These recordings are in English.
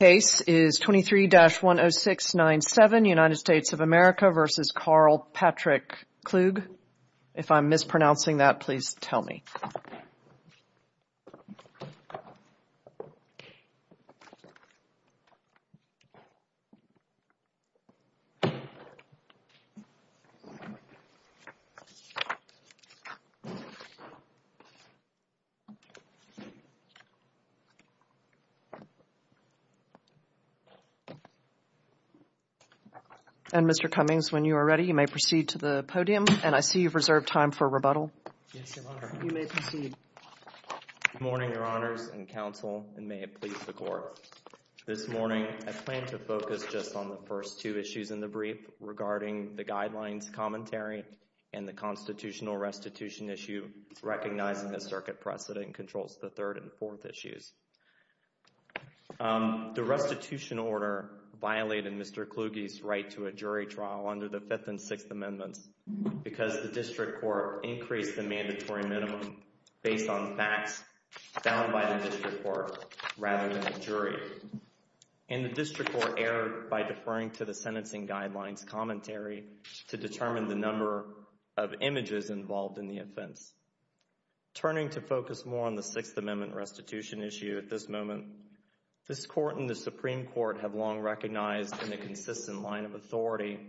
The case is 23-10697, United States of America v. Karl Patrick Kluge. If I'm mispronouncing that, please tell me. And, Mr. Cummings, when you are ready, you may proceed to the podium, and I see you've reserved time for rebuttal. Yes, Your Honor. You may proceed. Good morning, Your Honors and Counsel, and may it please the Court. This morning, I plan to focus just on the first two issues in the brief regarding the Guidelines Commentary and the Constitutional Restitution Issue, recognizing the circuit precedent controls the third and fourth issues. The restitution order violated Mr. Kluge's right to a jury trial under the Fifth and Sixth Amendments because the District Court increased the mandatory minimum based on facts found by the District Court rather than the jury, and the District Court erred by deferring to the Sentencing Guidelines Commentary to determine the number of images involved in the offense. Turning to focus more on the Sixth Amendment restitution issue at this moment, this Court and the Supreme Court have long recognized in the consistent line of authority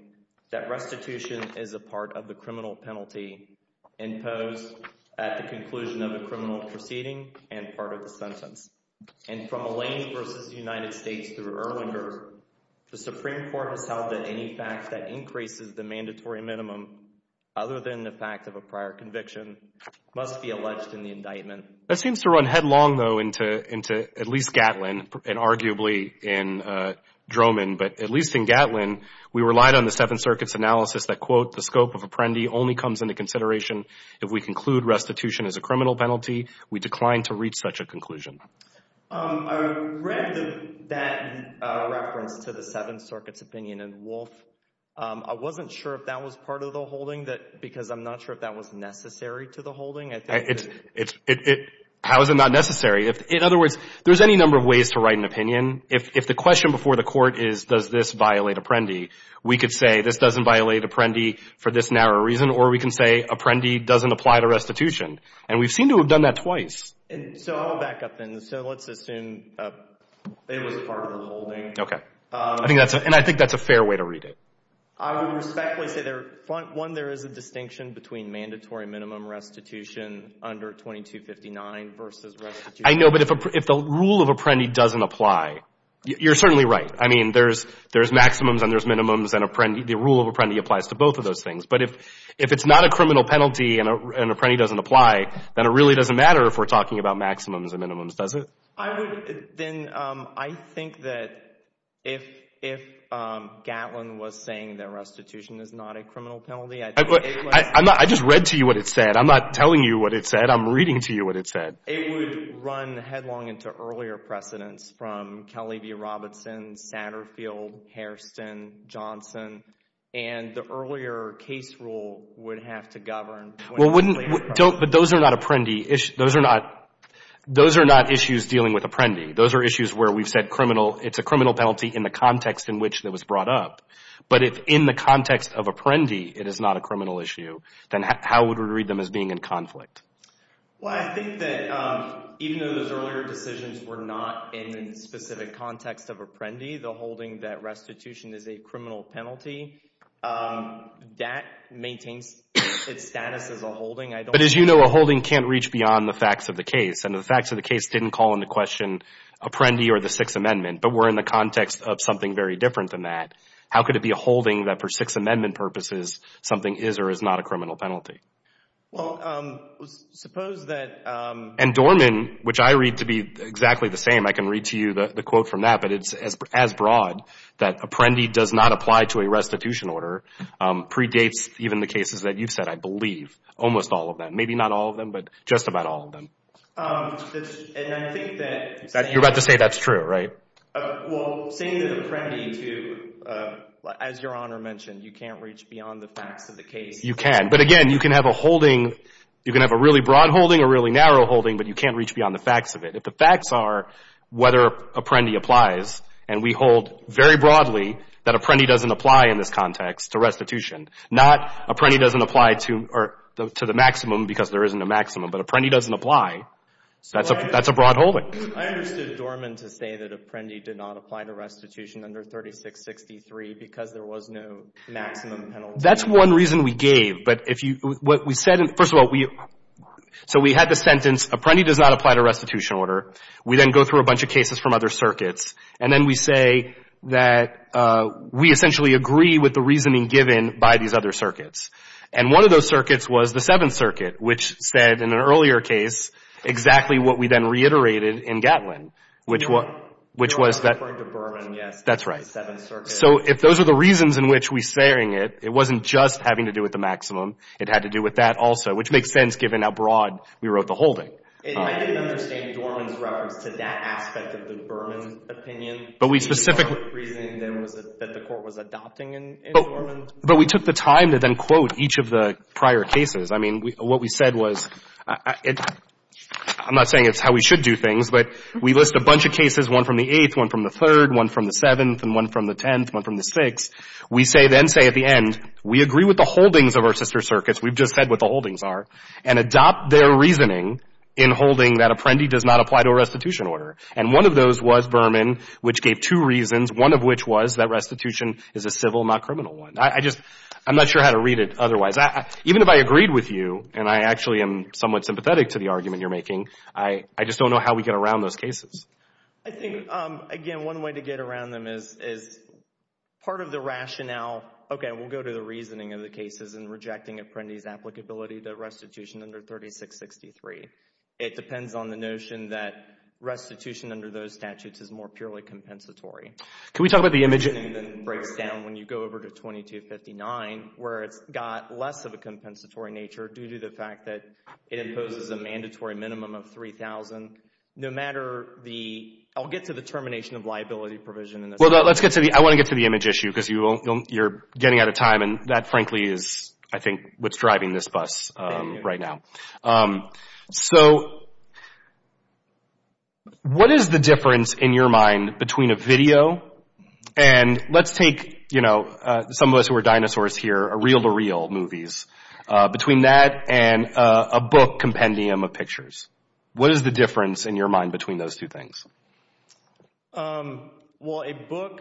that restitution is a part of the criminal penalty imposed at the conclusion of a criminal proceeding and part of the sentence. And from Alain versus the United States through Erlinger, the Supreme Court has held that any fact that increases the mandatory minimum other than the fact of a prior conviction must be alleged in the indictment. That seems to run headlong, though, into at least Gatlin and arguably in Droman, but at least in Gatlin, we relied on the Seventh Circuit's analysis that, quote, the scope of apprendi only comes into consideration if we conclude restitution as a criminal penalty. We declined to reach such a conclusion. I read that reference to the Seventh Circuit's opinion in Wolfe. I wasn't sure if that was part of the holding because I'm not sure if that was necessary to the holding. It's, it's, it, it, how is it not necessary? If, in other words, there's any number of ways to write an opinion. If, if the question before the Court is, does this violate apprendi, we could say this doesn't violate apprendi for this narrow reason, or we can say apprendi doesn't apply to restitution. And we've seemed to have done that twice. And so I'll back up and so let's assume it was part of the holding. Okay. I think that's, and I think that's a fair way to read it. I would respectfully say there, one, there is a distinction between mandatory minimum restitution under 2259 versus restitution. I know, but if, if the rule of apprendi doesn't apply, you're certainly right. I mean, there's, there's maximums and there's minimums and apprendi, the rule of apprendi applies to both of those things. But if, if it's not a criminal penalty and apprendi doesn't apply, then it really doesn't matter if we're talking about maximums and minimums, does it? I would, then, I think that if, if Gatlin was saying that restitution is not a criminal penalty, I think it would. I, I'm not, I just read to you what it said. I'm not telling you what it said. I'm reading to you what it said. It would run headlong into earlier precedents from Kelly v. Robertson, Satterfield, Hairston, Johnson, and the earlier case rule would have to govern. Well, wouldn't, don't, but those are not apprendi issues. Those are not, those are not issues dealing with apprendi. Those are issues where we've said criminal, it's a criminal penalty in the context in which it was brought up. But if in the context of apprendi, it is not a criminal issue, then how would we read them as being in conflict? Well, I think that even though those earlier decisions were not in the specific context of apprendi, the holding that restitution is a criminal penalty, that maintains its status as a holding. But as you know, a holding can't reach beyond the facts of the case, and the facts of the case didn't call into question apprendi or the Sixth Amendment, but we're in the context of something very different than that. How could it be a holding that for Sixth Amendment purposes, something is or is not a criminal penalty? Well, suppose that. And Dorman, which I read to be exactly the same, I can read to you the quote from that, but it's as broad, that apprendi does not apply to a restitution order, predates even the cases that you've said, I believe, almost all of them, maybe not all of them, but just about all of them. And I think that... You're about to say that's true, right? Well, saying that apprendi to, as Your Honor mentioned, you can't reach beyond the facts of the case. You can, but again, you can have a holding, you can have a really broad holding, a really narrow holding, but you can't reach beyond the facts of it. If the facts are whether apprendi applies, and we hold very broadly that apprendi doesn't apply in this context to restitution, not apprendi doesn't apply to the maximum because there isn't a maximum, but apprendi doesn't apply, that's a broad holding. I understood Dorman to say that apprendi did not apply to restitution under 3663 because there was no maximum penalty. That's one reason we gave. But if you — what we said — first of all, so we had the sentence, apprendi does not apply to restitution order. We then go through a bunch of cases from other circuits, and then we say that we essentially agree with the reasoning given by these other circuits. And one of those circuits was the Seventh Circuit, which said in an earlier case exactly what we then reiterated in Gatlin, which was — You're referring to Dorman, yes. That's right. The Seventh Circuit. So if those are the reasons in which we're saying it, it wasn't just having to do with the maximum, it had to do with that also, which makes sense given how broad we wrote the holding. I didn't understand Dorman's reference to that aspect of the Dorman opinion. But we specifically — But we took the time to then quote each of the prior cases. I mean, what we said was — I'm not saying it's how we should do things, but we list a bunch of cases, one from the Eighth, one from the Third, one from the Seventh, and one from the Tenth, one from the Sixth. We say then, say at the end, we agree with the holdings of our sister circuits, we've just said what the holdings are, and adopt their reasoning in holding that apprendi does not apply to a restitution order. And one of those was Berman, which gave two reasons, one of which was that restitution is a civil, not criminal one. I just — I'm not sure how to read it otherwise. Even if I agreed with you, and I actually am somewhat sympathetic to the argument you're making, I just don't know how we get around those cases. I think, again, one way to get around them is part of the rationale — okay, we'll go to the reasoning of the cases and rejecting apprendi's applicability to restitution under 3663. It depends on the notion that restitution under those statutes is more purely compensatory. Can we talk about the image — And then it breaks down when you go over to 2259, where it's got less of a compensatory nature due to the fact that it imposes a mandatory minimum of $3,000. No matter the — I'll get to the termination of liability provision in a second. Well, let's get to the — I want to get to the image issue, because you're getting out of time, and that, frankly, is, I think, what's driving this bus right now. So, what is the difference, in your mind, between a video — and let's take, you know, some of us who are dinosaurs here are reel-to-reel movies — between that and a book compendium of pictures? What is the difference, in your mind, between those two things? Well, a book,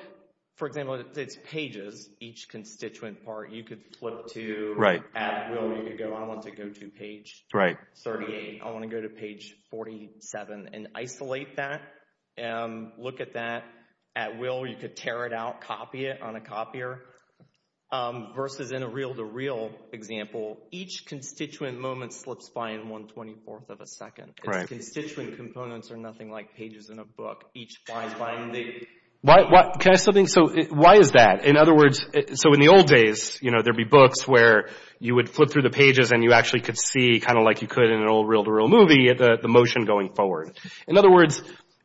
for example, it's pages, each constituent part. You could flip to — Right. At will, you could go, I want to go to page 38. I want to go to page 47. And isolate that, look at that at will. You could tear it out, copy it on a copier. Versus in a reel-to-reel example, each constituent moment slips by in 1 24th of a second. Right. Its constituent components are nothing like pages in a book. Each flies by in the — Can I ask something? So, why is that? In other words, so in the old days, you know, there'd be books where you would flip through the pages and you actually could see, kind of like you could in an old reel-to-reel movie, the motion going forward. In other words,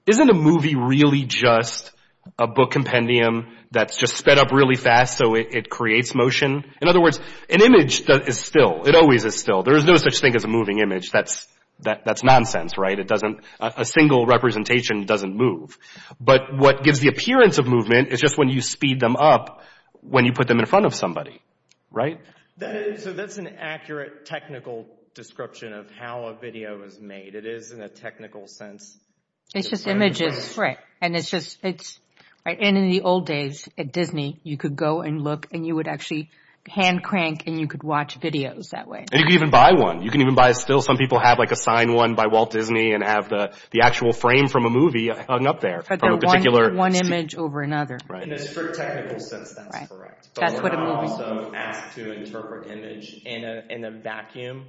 isn't a movie really just a book compendium that's just sped up really fast so it creates motion? In other words, an image is still. It always is still. There is no such thing as a moving image. That's nonsense, right? It doesn't — a single representation doesn't move. But what gives the appearance of movement is just when you speed them up when you put them in front of somebody, right? So that's an accurate technical description of how a video is made. It is in a technical sense. It's just images. And it's just — it's — and in the old days at Disney, you could go and look and you would actually hand crank and you could watch videos that way. And you could even buy one. You can even buy a still. Some people have like a signed one by Walt Disney and have the actual frame from a movie hung up there from a particular — But they're one image over another. Right. In a strict technical sense, that's correct. Right. That's what a movie — But we're not also asked to interpret image in a vacuum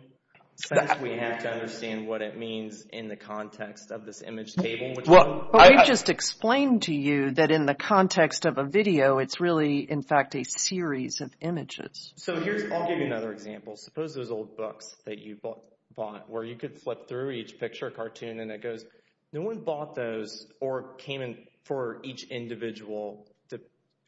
sense. We have to understand what it means in the context of this image table, which — Well, we've just explained to you that in the context of a video, it's really, in fact, a series of images. So here's — I'll give you another example. Suppose those old books that you bought where you could flip through each picture, cartoon, and it goes, no one bought those or came in for each individual —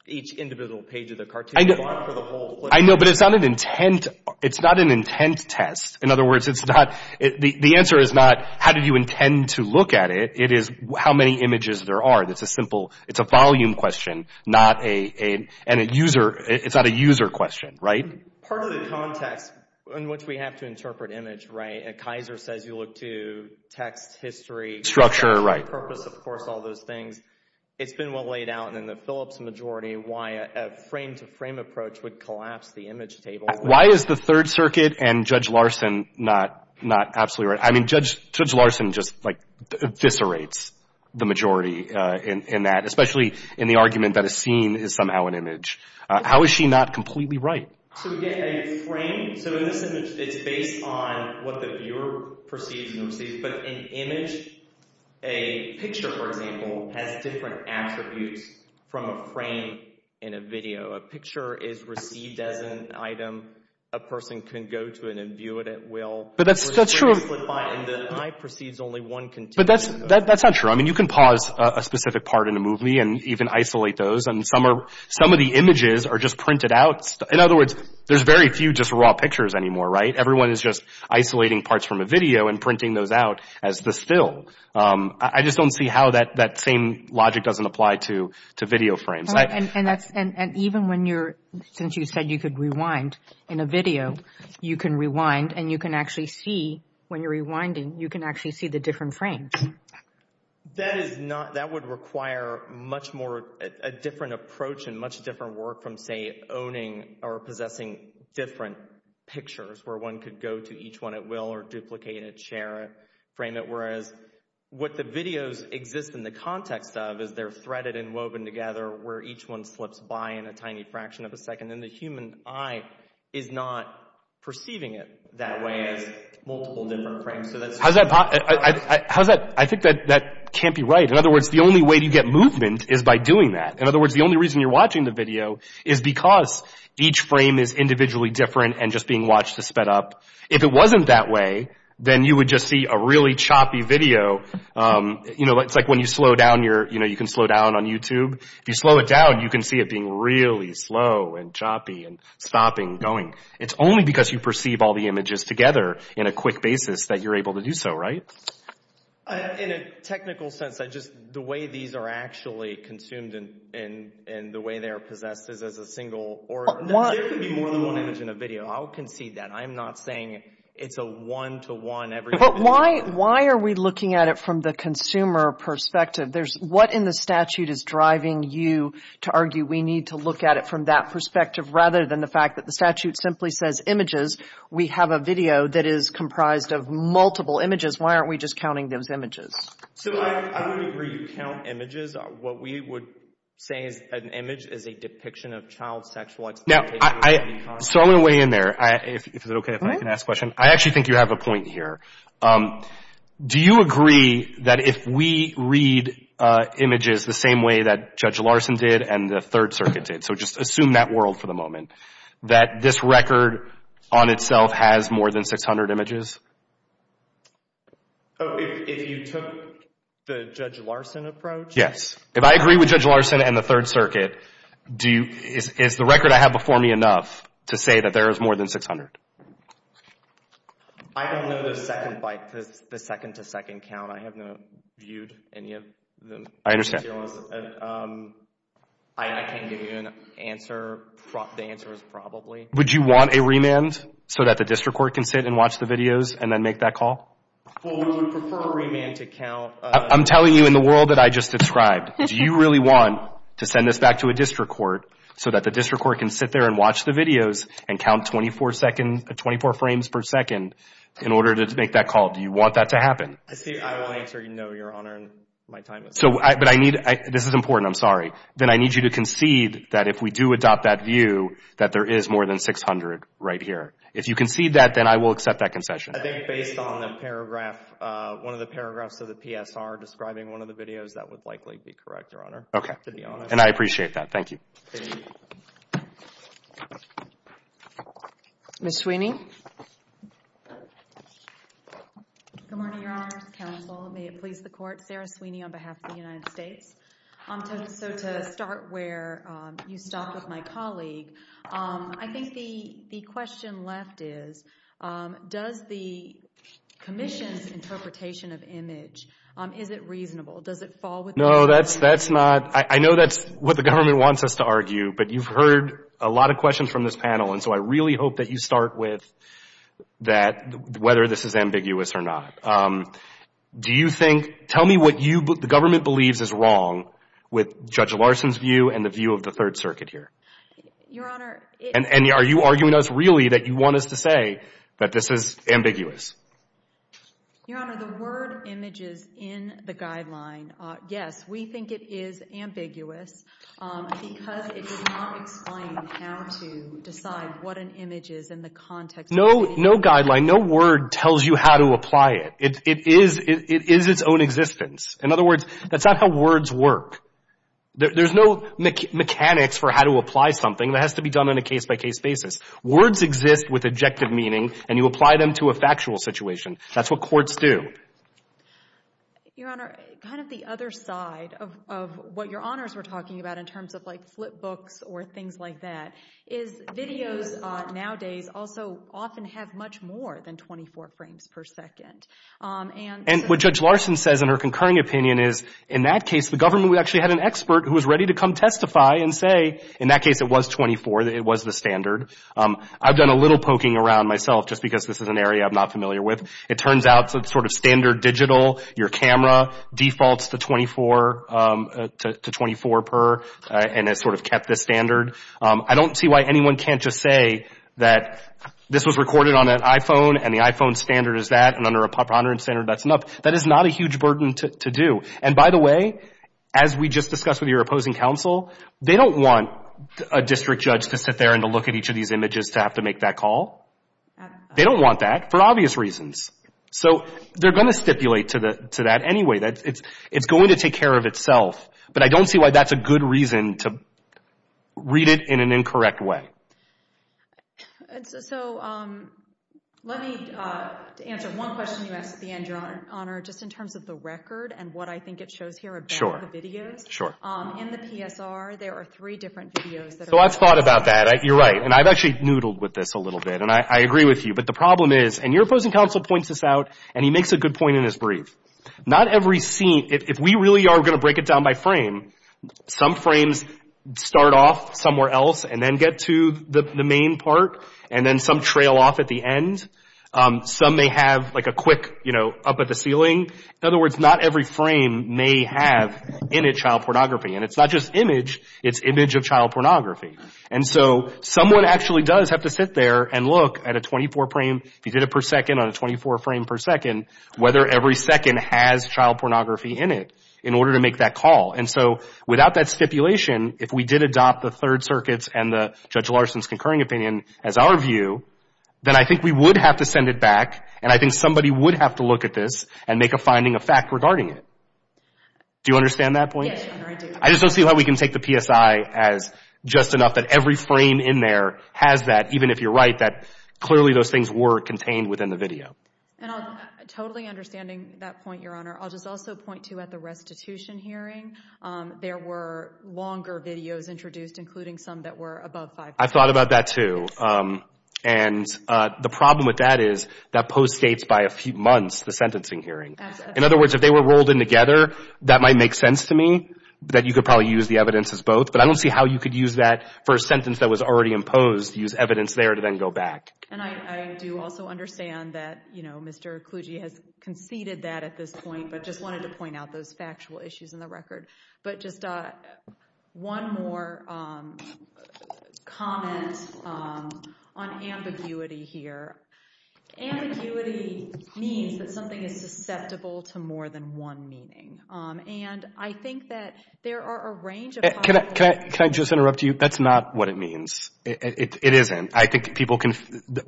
each individual page of the cartoon. You bought it for the whole — I know. But it's not an intent — it's not an intent test. In other words, it's not — the answer is not how did you intend to look at it. It is how many images there are. It's a simple — it's a volume question, not a — and a user — it's not a user question. Right? Part of the context in which we have to interpret image, right, Kaiser says you look to text history — Structure, right. — purpose, of course, all those things. It's been well laid out in the Phillips majority why a frame-to-frame approach would collapse the image table. Why is the Third Circuit and Judge Larson not absolutely right? I mean, Judge Larson just, like, eviscerates the majority in that, especially in the argument that a scene is somehow an image. How is she not completely right? So we get a frame. So in this image, it's based on what the viewer perceives and receives. But an image, a picture, for example, has different attributes from a frame in a video. A picture is received as an item. A person can go to it and view it at will. But that's — that's true. And the eye perceives only one — But that's — that's not true. I mean, you can pause a specific part in a movie and even isolate those, and some are — some of the images are just printed out. In other words, there's very few just raw pictures anymore, right? Everyone is just isolating parts from a video and printing those out as the still. I just don't see how that same logic doesn't apply to video frames. And that's — and even when you're — since you said you could rewind in a video, you can rewind and you can actually see — when you're rewinding, you can actually see the different frames. That is not — that would require much more — a different approach and much different work from, say, owning or possessing different pictures where one could go to each one at will or duplicate it, share it, frame it. Whereas what the videos exist in the context of is they're threaded and woven together where each one slips by in a tiny fraction of a second. And the human eye is not perceiving it that way as multiple different frames. So that's — How's that — how's that — I think that — that can't be right. In other words, the only way to get movement is by doing that. In other words, the only reason you're watching the video is because each frame is individually different and just being watched to sped up. If it wasn't that way, then you would just see a really choppy video. You know, it's like when you slow down your — you know, you can slow down on YouTube. If you slow it down, you can see it being really slow and choppy and stopping, going. It's only because you perceive all the images together in a quick basis that you're able to do so, right? In a technical sense, I just — the way these are actually consumed and the way they are possessed is as a single — One — There could be more than one image in a video. I'll concede that. I'm not saying it's a one-to-one every — But why — why are we looking at it from the consumer perspective? There's — what in the statute is driving you to argue we need to look at it from that perspective rather than the fact that the statute simply says images. We have a video that is comprised of multiple images. Why aren't we just counting those images? So I would agree. You count images. What we would say is an image is a depiction of child sexual exploitation. Now, I — so I'm going to weigh in there. If it's okay if I can ask a question. I actually think you have a point here. Do you agree that if we read images the same way that Judge Larson did and the Third Circuit did — so just assume that world for the moment — that this record on itself has more than 600 images? Oh, if you took the Judge Larson approach? Yes. If I agree with Judge Larson and the Third Circuit, do you — is the record I have before me enough to say that there is more than 600? I don't know the second by — the second-to-second count. I have not viewed any of them. I understand. I can't give you an answer. The answer is probably. Would you want a remand so that the district court can sit and watch the videos and then make that call? I'm telling you in the world that I just described, do you really want to send this back to a district court so that the district court can sit there and watch the videos and count 24 frames per second in order to make that call? Do you want that to happen? I will answer no, Your Honor, and my time is up. But I need — this is important, I'm sorry. Then I need you to concede that if we do adopt that view, that there is more than 600 right here. If you concede that, then I will accept that concession. I think based on the paragraph — one of the paragraphs of the PSR describing one of the videos, that would likely be correct, Your Honor, to be honest. And I appreciate that. Thank you. Ms. Sweeney? Good morning, Your Honor. This is counsel. May it please the court. Sarah Sweeney on behalf of the United States. So to start where you stopped with my colleague, I think the question left is, does the commission's interpretation of image, is it reasonable? Does it fall within — No, that's not — I know that's what the government wants us to argue, but you've heard a lot of questions from this panel, and so I really hope that you start with, that whether this is ambiguous or not. Do you think — tell me what you — the government believes is wrong with Judge Larson's view and the view of the Third Circuit here. Your Honor — And are you arguing to us really that you want us to say that this is ambiguous? Your Honor, the word images in the guideline, yes, we think it is ambiguous, because it does not explain how to decide what an image is in the context of — No, no guideline. No word tells you how to apply it. It is its own existence. In other words, that's not how words work. There's no mechanics for how to apply something. That has to be done on a case-by-case basis. Words exist with objective meaning, and you apply them to a factual situation. That's what courts do. Your Honor, kind of the other side of what Your Honors were talking about in terms of like flip books or things like that is videos nowadays also often have much more than 24 frames per second. And — And what Judge Larson says in her concurring opinion is, in that case, the government actually had an expert who was ready to come testify and say, in that case, it was 24. It was the standard. I've done a little poking around myself just because this is an area I'm not familiar with. It turns out it's sort of standard digital. Your camera defaults to 24 per and has sort of kept this standard. I don't see why anyone can't just say that this was recorded on an iPhone and the iPhone standard is that, and under a preponderance standard, that's enough. That is not a huge burden to do. And by the way, as we just discussed with your opposing counsel, they don't want a district judge to sit there and to look at each of these images to have to make that call. They don't want that for obvious reasons. So they're going to stipulate to that anyway. It's going to take care of itself. But I don't see why that's a good reason to read it in an incorrect way. So let me answer one question you asked at the end, Your Honor, just in terms of the record and what I think it shows here about the videos. Sure. In the PSR, there are three different videos. So I've thought about that. You're right. And I've actually noodled with this a little bit, and I agree with you. But the problem is, and your opposing counsel points this out, and he makes a good point in his brief. Not every scene, if we really are going to break it down by frame, some frames start off somewhere else and then get to the main part and then some trail off at the end. Some may have, like, a quick, you know, up at the ceiling. In other words, not every frame may have in it child pornography. And it's not just image. It's image of child pornography. And so someone actually does have to sit there and look at a 24-frame, if you did it per second on a 24-frame per second, whether every second has child pornography in it in order to make that call. And so without that stipulation, if we did adopt the Third Circuit's and Judge Larson's concurring opinion as our view, then I think we would have to send it back, and I think somebody would have to look at this and make a finding of fact regarding it. Do you understand that point? Yes, Your Honor, I do. I just don't see how we can take the PSI as just enough that every frame in there has that, even if you're right that clearly those things were contained within the video. And I'm totally understanding that point, Your Honor. I'll just also point to at the restitution hearing, there were longer videos introduced, including some that were above five minutes. I thought about that, too. And the problem with that is that post-states by a few months, the sentencing hearing. In other words, if they were rolled in together, that might make sense to me, that you could probably use the evidence as both. But I don't see how you could use that for a sentence that was already imposed, use evidence there to then go back. And I do also understand that, you know, but just wanted to point out those factual issues in the record. But just one more comment on ambiguity here. Ambiguity means that something is susceptible to more than one meaning. And I think that there are a range of possibilities. Can I just interrupt you? That's not what it means. It isn't. I think people can,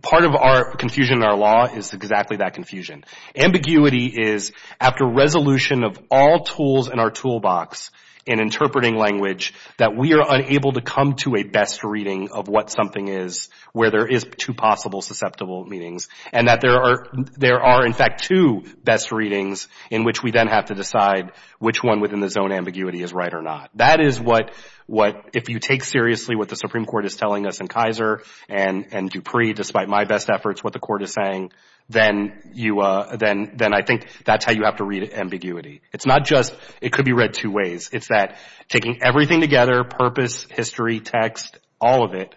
part of our confusion in our law is exactly that confusion. Ambiguity is after resolution of all tools in our toolbox in interpreting language that we are unable to come to a best reading of what something is where there is two possible susceptible meanings. And that there are, in fact, two best readings in which we then have to decide which one within the zone ambiguity is right or not. That is what, if you take seriously what the Supreme Court is telling us in Kaiser and Dupree, despite my best efforts, what the court is saying, then I think that's how you have to read ambiguity. It's not just it could be read two ways. It's that taking everything together, purpose, history, text, all of it,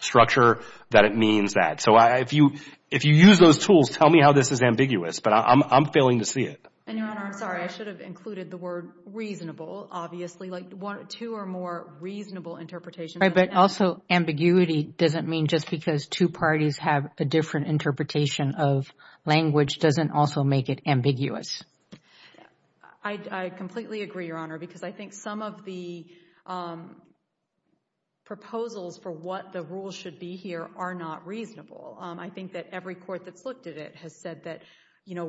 structure, that it means that. So if you use those tools, tell me how this is ambiguous. But I'm failing to see it. And, Your Honor, I'm sorry. I should have included the word reasonable, obviously. Like two or more reasonable interpretations. But also ambiguity doesn't mean just because two parties have a different interpretation of language doesn't also make it ambiguous. I completely agree, Your Honor, because I think some of the proposals for what the rules should be here are not reasonable. I think that every court that's looked at it has said that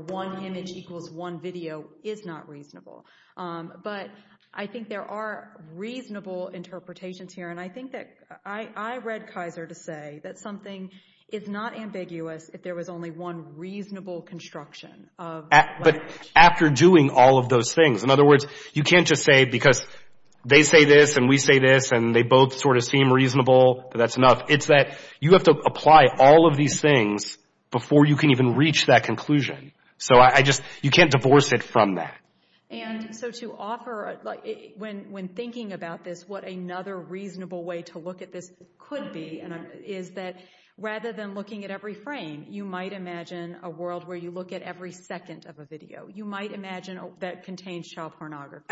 one image equals one video is not reasonable. But I think there are reasonable interpretations here. And I think that I read Kaiser to say that something is not ambiguous if there was only one reasonable construction of language. But after doing all of those things, in other words, you can't just say because they say this and we say this and they both sort of seem reasonable, that's enough. It's that you have to apply all of these things before you can even reach that conclusion. So I just, you can't divorce it from that. And so to offer, when thinking about this, what another reasonable way to look at this could be is that rather than looking at every frame, you might imagine a world where you look at every second of a video. You might imagine that contains child pornography.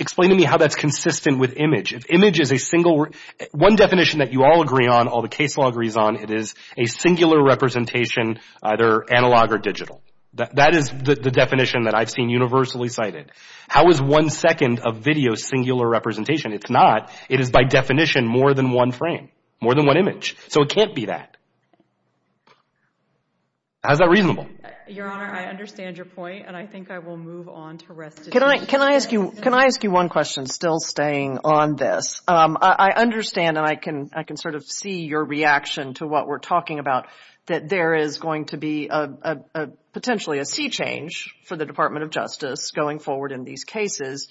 Explain to me how that's consistent with image. If image is a single word... One definition that you all agree on, all the case law agrees on, it is a singular representation, either analog or digital. That is the definition that I've seen universally cited. How is one second of video singular representation? It's not. It is by definition more than one frame, more than one image. So it can't be that. How's that reasonable? Your Honor, I understand your point, and I think I will move on to the rest of the... Can I ask you one question, still staying on this? I understand, and I can sort of see your reaction to what we're talking about, that there is going to be potentially a sea change for the Department of Justice going forward in these cases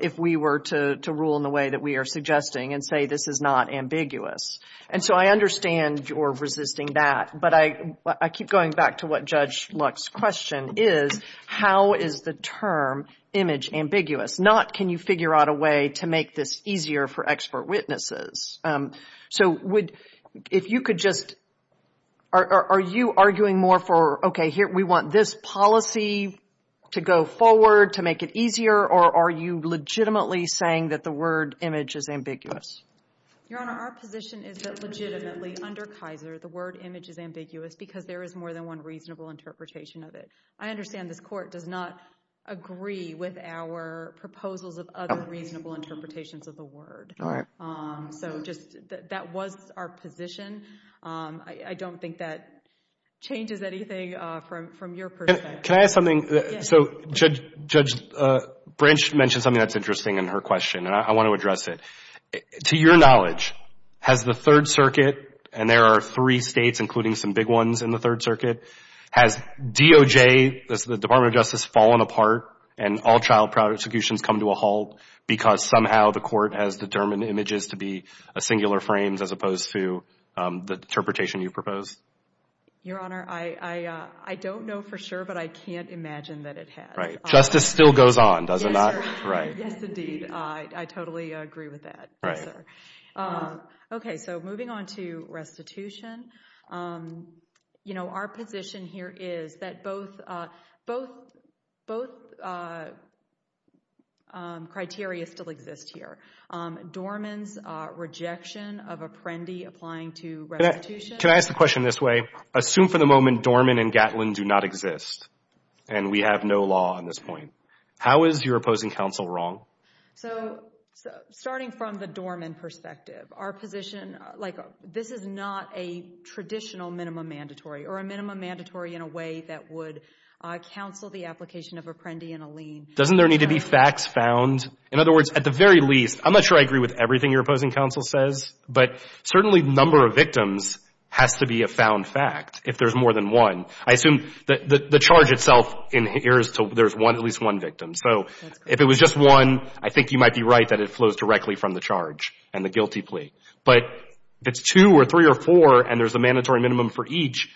if we were to rule in the way that we are suggesting and say this is not ambiguous. And so I understand your resisting that, but I keep going back to what Judge Luck's question is. How is the term image ambiguous? Not can you figure out a way to make this easier for expert witnesses. So if you could just... Are you arguing more for, okay, we want this policy to go forward to make it easier, or are you legitimately saying that the word image is ambiguous? Your Honor, our position is that legitimately under Kaiser the word image is ambiguous because there is more than one reasonable interpretation of it. I understand this court does not agree with our proposals of other reasonable interpretations of the word. All right. So just that was our position. I don't think that changes anything from your perspective. Can I ask something? So Judge Branch mentioned something that's interesting in her question, and I want to address it. To your knowledge, has the Third Circuit, and there are three states including some big ones in the Third Circuit, has DOJ, the Department of Justice, fallen apart and all trial prosecutions come to a halt because somehow the court has determined images to be singular frames as opposed to the interpretation you propose? Your Honor, I don't know for sure, but I can't imagine that it has. Right. Justice still goes on, does it not? Right. Yes, indeed. I totally agree with that. Right. Yes, sir. Okay, so moving on to restitution, our position here is that both criteria still exist here. Dorman's rejection of Apprendi applying to restitution. Can I ask the question this way? Assume for the moment Dorman and Gatlin do not exist, and we have no law on this point. How is your opposing counsel wrong? So starting from the Dorman perspective, our position, like this is not a traditional minimum mandatory or a minimum mandatory in a way that would counsel the application of Apprendi in a lien. Doesn't there need to be facts found? In other words, at the very least, I'm not sure I agree with everything your opposing counsel says, but certainly the number of victims has to be a found fact if there's more than one. I assume the charge itself inheres to there's at least one victim. So if it was just one, I think you might be right that it flows directly from the charge and the guilty plea. But if it's two or three or four and there's a mandatory minimum for each,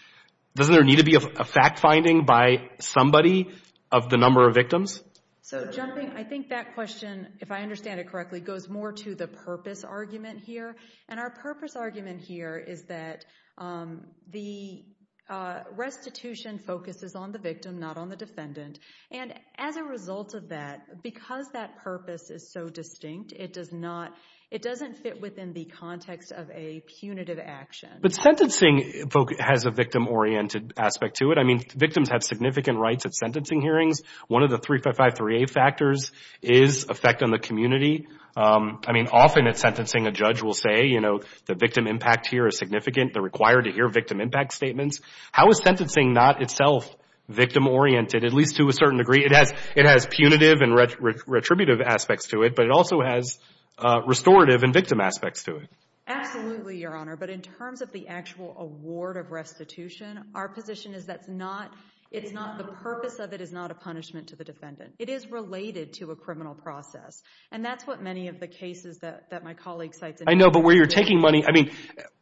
doesn't there need to be a fact finding by somebody of the number of victims? So jumping, I think that question, if I understand it correctly, goes more to the purpose argument here. And our purpose argument here is that the restitution focuses on the victim, not on the defendant. And as a result of that, because that purpose is so distinct, it doesn't fit within the context of a punitive action. But sentencing has a victim-oriented aspect to it. I mean, victims have significant rights at sentencing hearings. One of the 355-3A factors is effect on the community. I mean, often at sentencing a judge will say, you know, the victim impact here is significant. They're required to hear victim impact statements. How is sentencing not itself victim-oriented, at least to a certain degree? It has punitive and retributive aspects to it, but it also has restorative and victim aspects to it. Absolutely, Your Honor. But in terms of the actual award of restitution, our position is that the purpose of it is not a punishment to the defendant. It is related to a criminal process. And that's what many of the cases that my colleague cites. I know, but where you're taking money, I mean,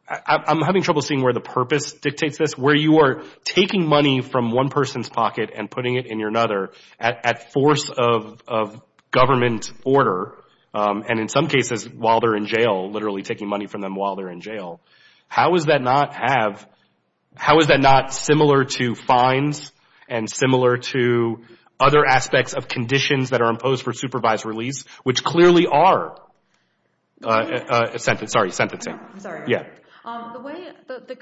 I'm having trouble seeing where the purpose dictates this. Where you are taking money from one person's pocket and putting it in another at force of government order, and in some cases while they're in jail, literally taking money from them while they're in jail, how is that not similar to fines and similar to other aspects of conditions that are imposed for supervised release, which clearly are sentencing? I'm sorry. The way,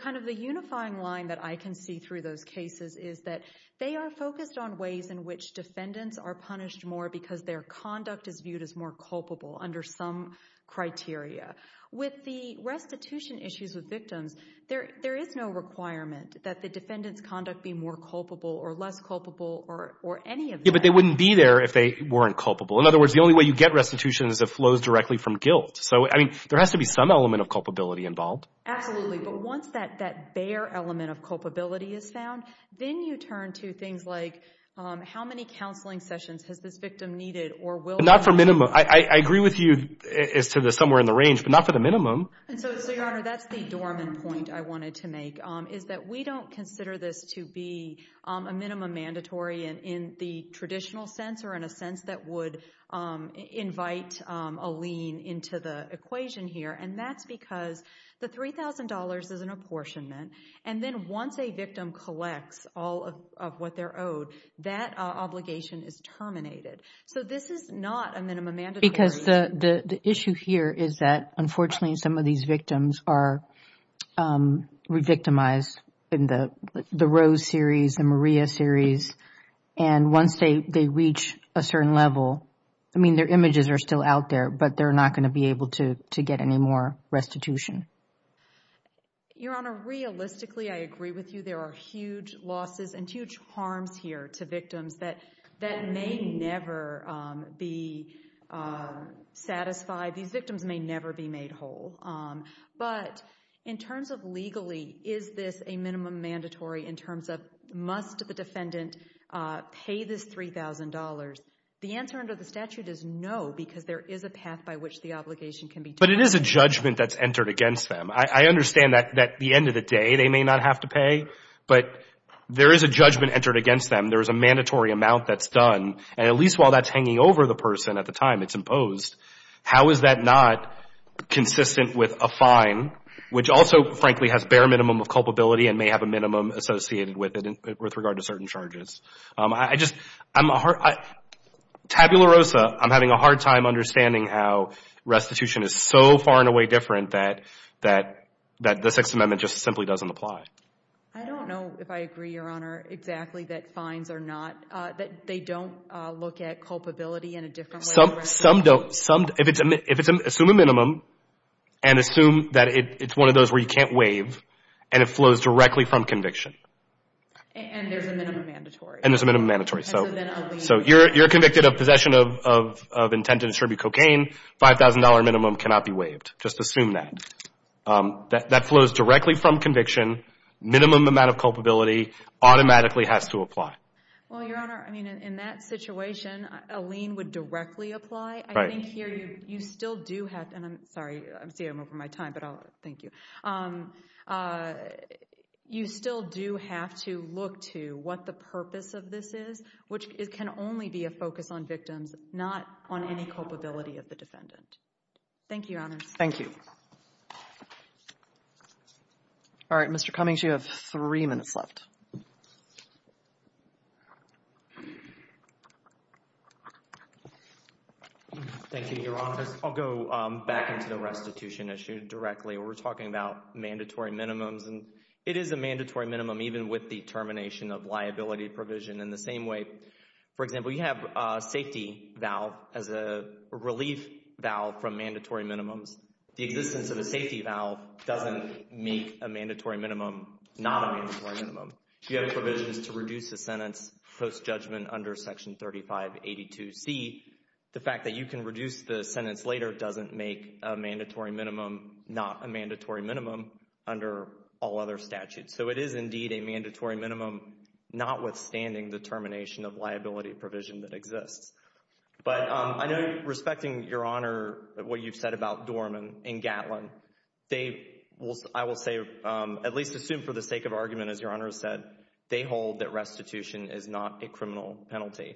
kind of the unifying line that I can see through those cases is that they are focused on ways in which defendants are punished more because their conduct is viewed as more culpable under some criteria. With the restitution issues with victims, there is no requirement that the defendant's conduct be more culpable or less culpable or any of that. Yeah, but they wouldn't be there if they weren't culpable. In other words, the only way you get restitution is if it flows directly from guilt. So, I mean, there has to be some element of culpability involved. Absolutely. But once that bare element of culpability is found, then you turn to things like how many counseling sessions has this victim needed or will be needed. Well, not for minimum. I agree with you as to the somewhere in the range, but not for the minimum. And so, Your Honor, that's the dormant point I wanted to make, is that we don't consider this to be a minimum mandatory in the traditional sense or in a sense that would invite a lien into the equation here. And that's because the $3,000 is an apportionment. And then once a victim collects all of what they're owed, that obligation is terminated. So this is not a minimum mandatory. Because the issue here is that, unfortunately, some of these victims are re-victimized in the Rose series, the Maria series. And once they reach a certain level, I mean, their images are still out there, but they're not going to be able to get any more restitution. Your Honor, realistically, I agree with you. There are huge losses and huge harms here to victims that may never be satisfied. These victims may never be made whole. But in terms of legally, is this a minimum mandatory in terms of, must the defendant pay this $3,000? The answer under the statute is no, because there is a path by which the obligation can be terminated. But it is a judgment that's entered against them. I understand that at the end of the day they may not have to pay, but there is a judgment entered against them. There is a mandatory amount that's done. And at least while that's hanging over the person at the time it's imposed, how is that not consistent with a fine, which also, frankly, has bare minimum of culpability and may have a minimum associated with it with regard to certain charges? I just, I'm a hard, tabula rosa, I'm having a hard time understanding how restitution is so far and away different that the Sixth Amendment just simply doesn't apply. I don't know if I agree, Your Honor, exactly that fines are not, that they don't look at culpability in a different way. Some don't. Assume a minimum and assume that it's one of those where you can't waive and it flows directly from conviction. And there's a minimum mandatory. And there's a minimum mandatory. So you're convicted of possession of intent to distribute cocaine, $5,000 minimum cannot be waived. Just assume that. That flows directly from conviction. Minimum amount of culpability automatically has to apply. Well, Your Honor, I mean, in that situation, a lien would directly apply. I think here you still do have, and I'm sorry, I see I'm over my time, but I'll, thank you. You still do have to look to what the purpose of this is, which can only be a focus on victims, not on any culpability of the defendant. Thank you, Your Honor. Thank you. All right, Mr. Cummings, you have three minutes left. Thank you, Your Honor. I'll go back into the restitution issue directly. We're talking about mandatory minimums, and it is a mandatory minimum even with the termination of liability provision in the same way. For example, you have a safety vow as a relief vow from mandatory minimums. The existence of a safety vow doesn't make a mandatory minimum not a mandatory minimum. You have provisions to reduce a sentence post-judgment under Section 3582C. The fact that you can reduce the sentence later doesn't make a mandatory minimum not a mandatory minimum under all other statutes. So it is indeed a mandatory minimum, notwithstanding the termination of liability provision that exists. But I know, respecting, Your Honor, what you've said about Dorman and Gatlin, they will, I will say, at least assume for the sake of argument, as Your Honor said, they hold that restitution is not a criminal penalty.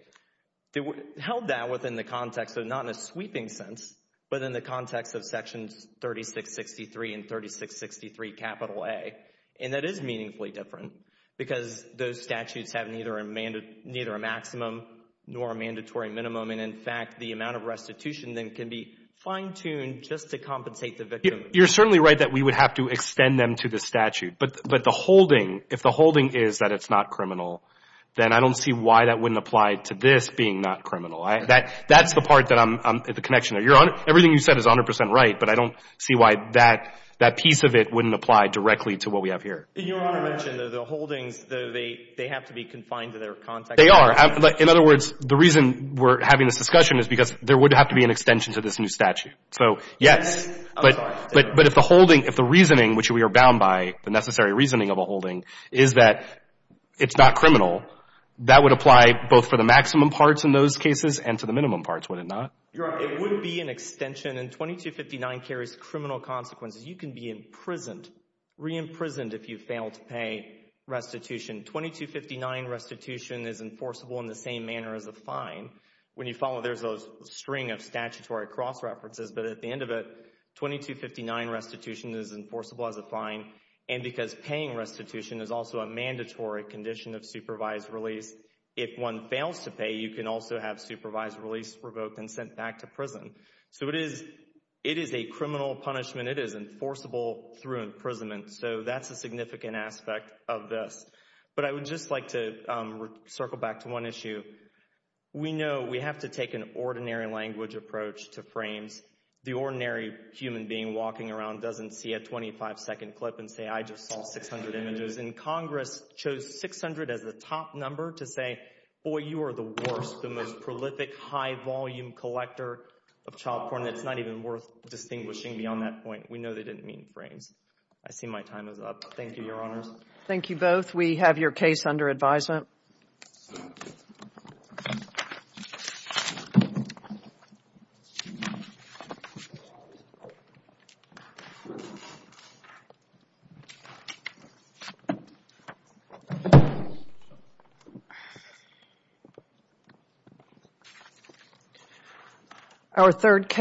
They held that within the context of not in a sweeping sense, but in the context of Sections 3663 and 3663A. And that is meaningfully different because those statutes have neither a maximum nor a mandatory minimum. And, in fact, the amount of restitution then can be fine-tuned just to compensate the victim. You're certainly right that we would have to extend them to the statute. But the holding, if the holding is that it's not criminal, then I don't see why that wouldn't apply to this being not criminal. That's the part that I'm at the connection. Everything you said is 100 percent right, but I don't see why that piece of it wouldn't apply directly to what we have here. Your Honor mentioned that the holdings, they have to be confined to their context. They are. In other words, the reason we're having this discussion is because there would have to be an extension to this new statute. So, yes. But if the holding, if the reasoning, which we are bound by, the necessary reasoning of a holding, is that it's not criminal, that would apply both for the maximum parts in those cases and to the minimum parts, would it not? Your Honor, it would be an extension. And 2259 carries criminal consequences. You can be imprisoned, re-imprisoned if you fail to pay restitution. 2259 restitution is enforceable in the same manner as a fine. When you follow, there's a string of statutory cross-references, but at the end of it, 2259 restitution is enforceable as a fine. And because paying restitution is also a mandatory condition of supervised release, if one fails to pay, you can also have supervised release revoked and sent back to prison. So it is a criminal punishment. It is enforceable through imprisonment. So that's a significant aspect of this. But I would just like to circle back to one issue. We know we have to take an ordinary language approach to frames. The ordinary human being walking around doesn't see a 25-second clip and say, I just saw 600 images. And Congress chose 600 as the top number to say, boy, you are the worst, the most prolific high-volume collector of child porn. It's not even worth distinguishing beyond that point. We know they didn't mean frames. I see my time is up. Thank you, Your Honors. Thank you both. We have your case under advisement. Thank you.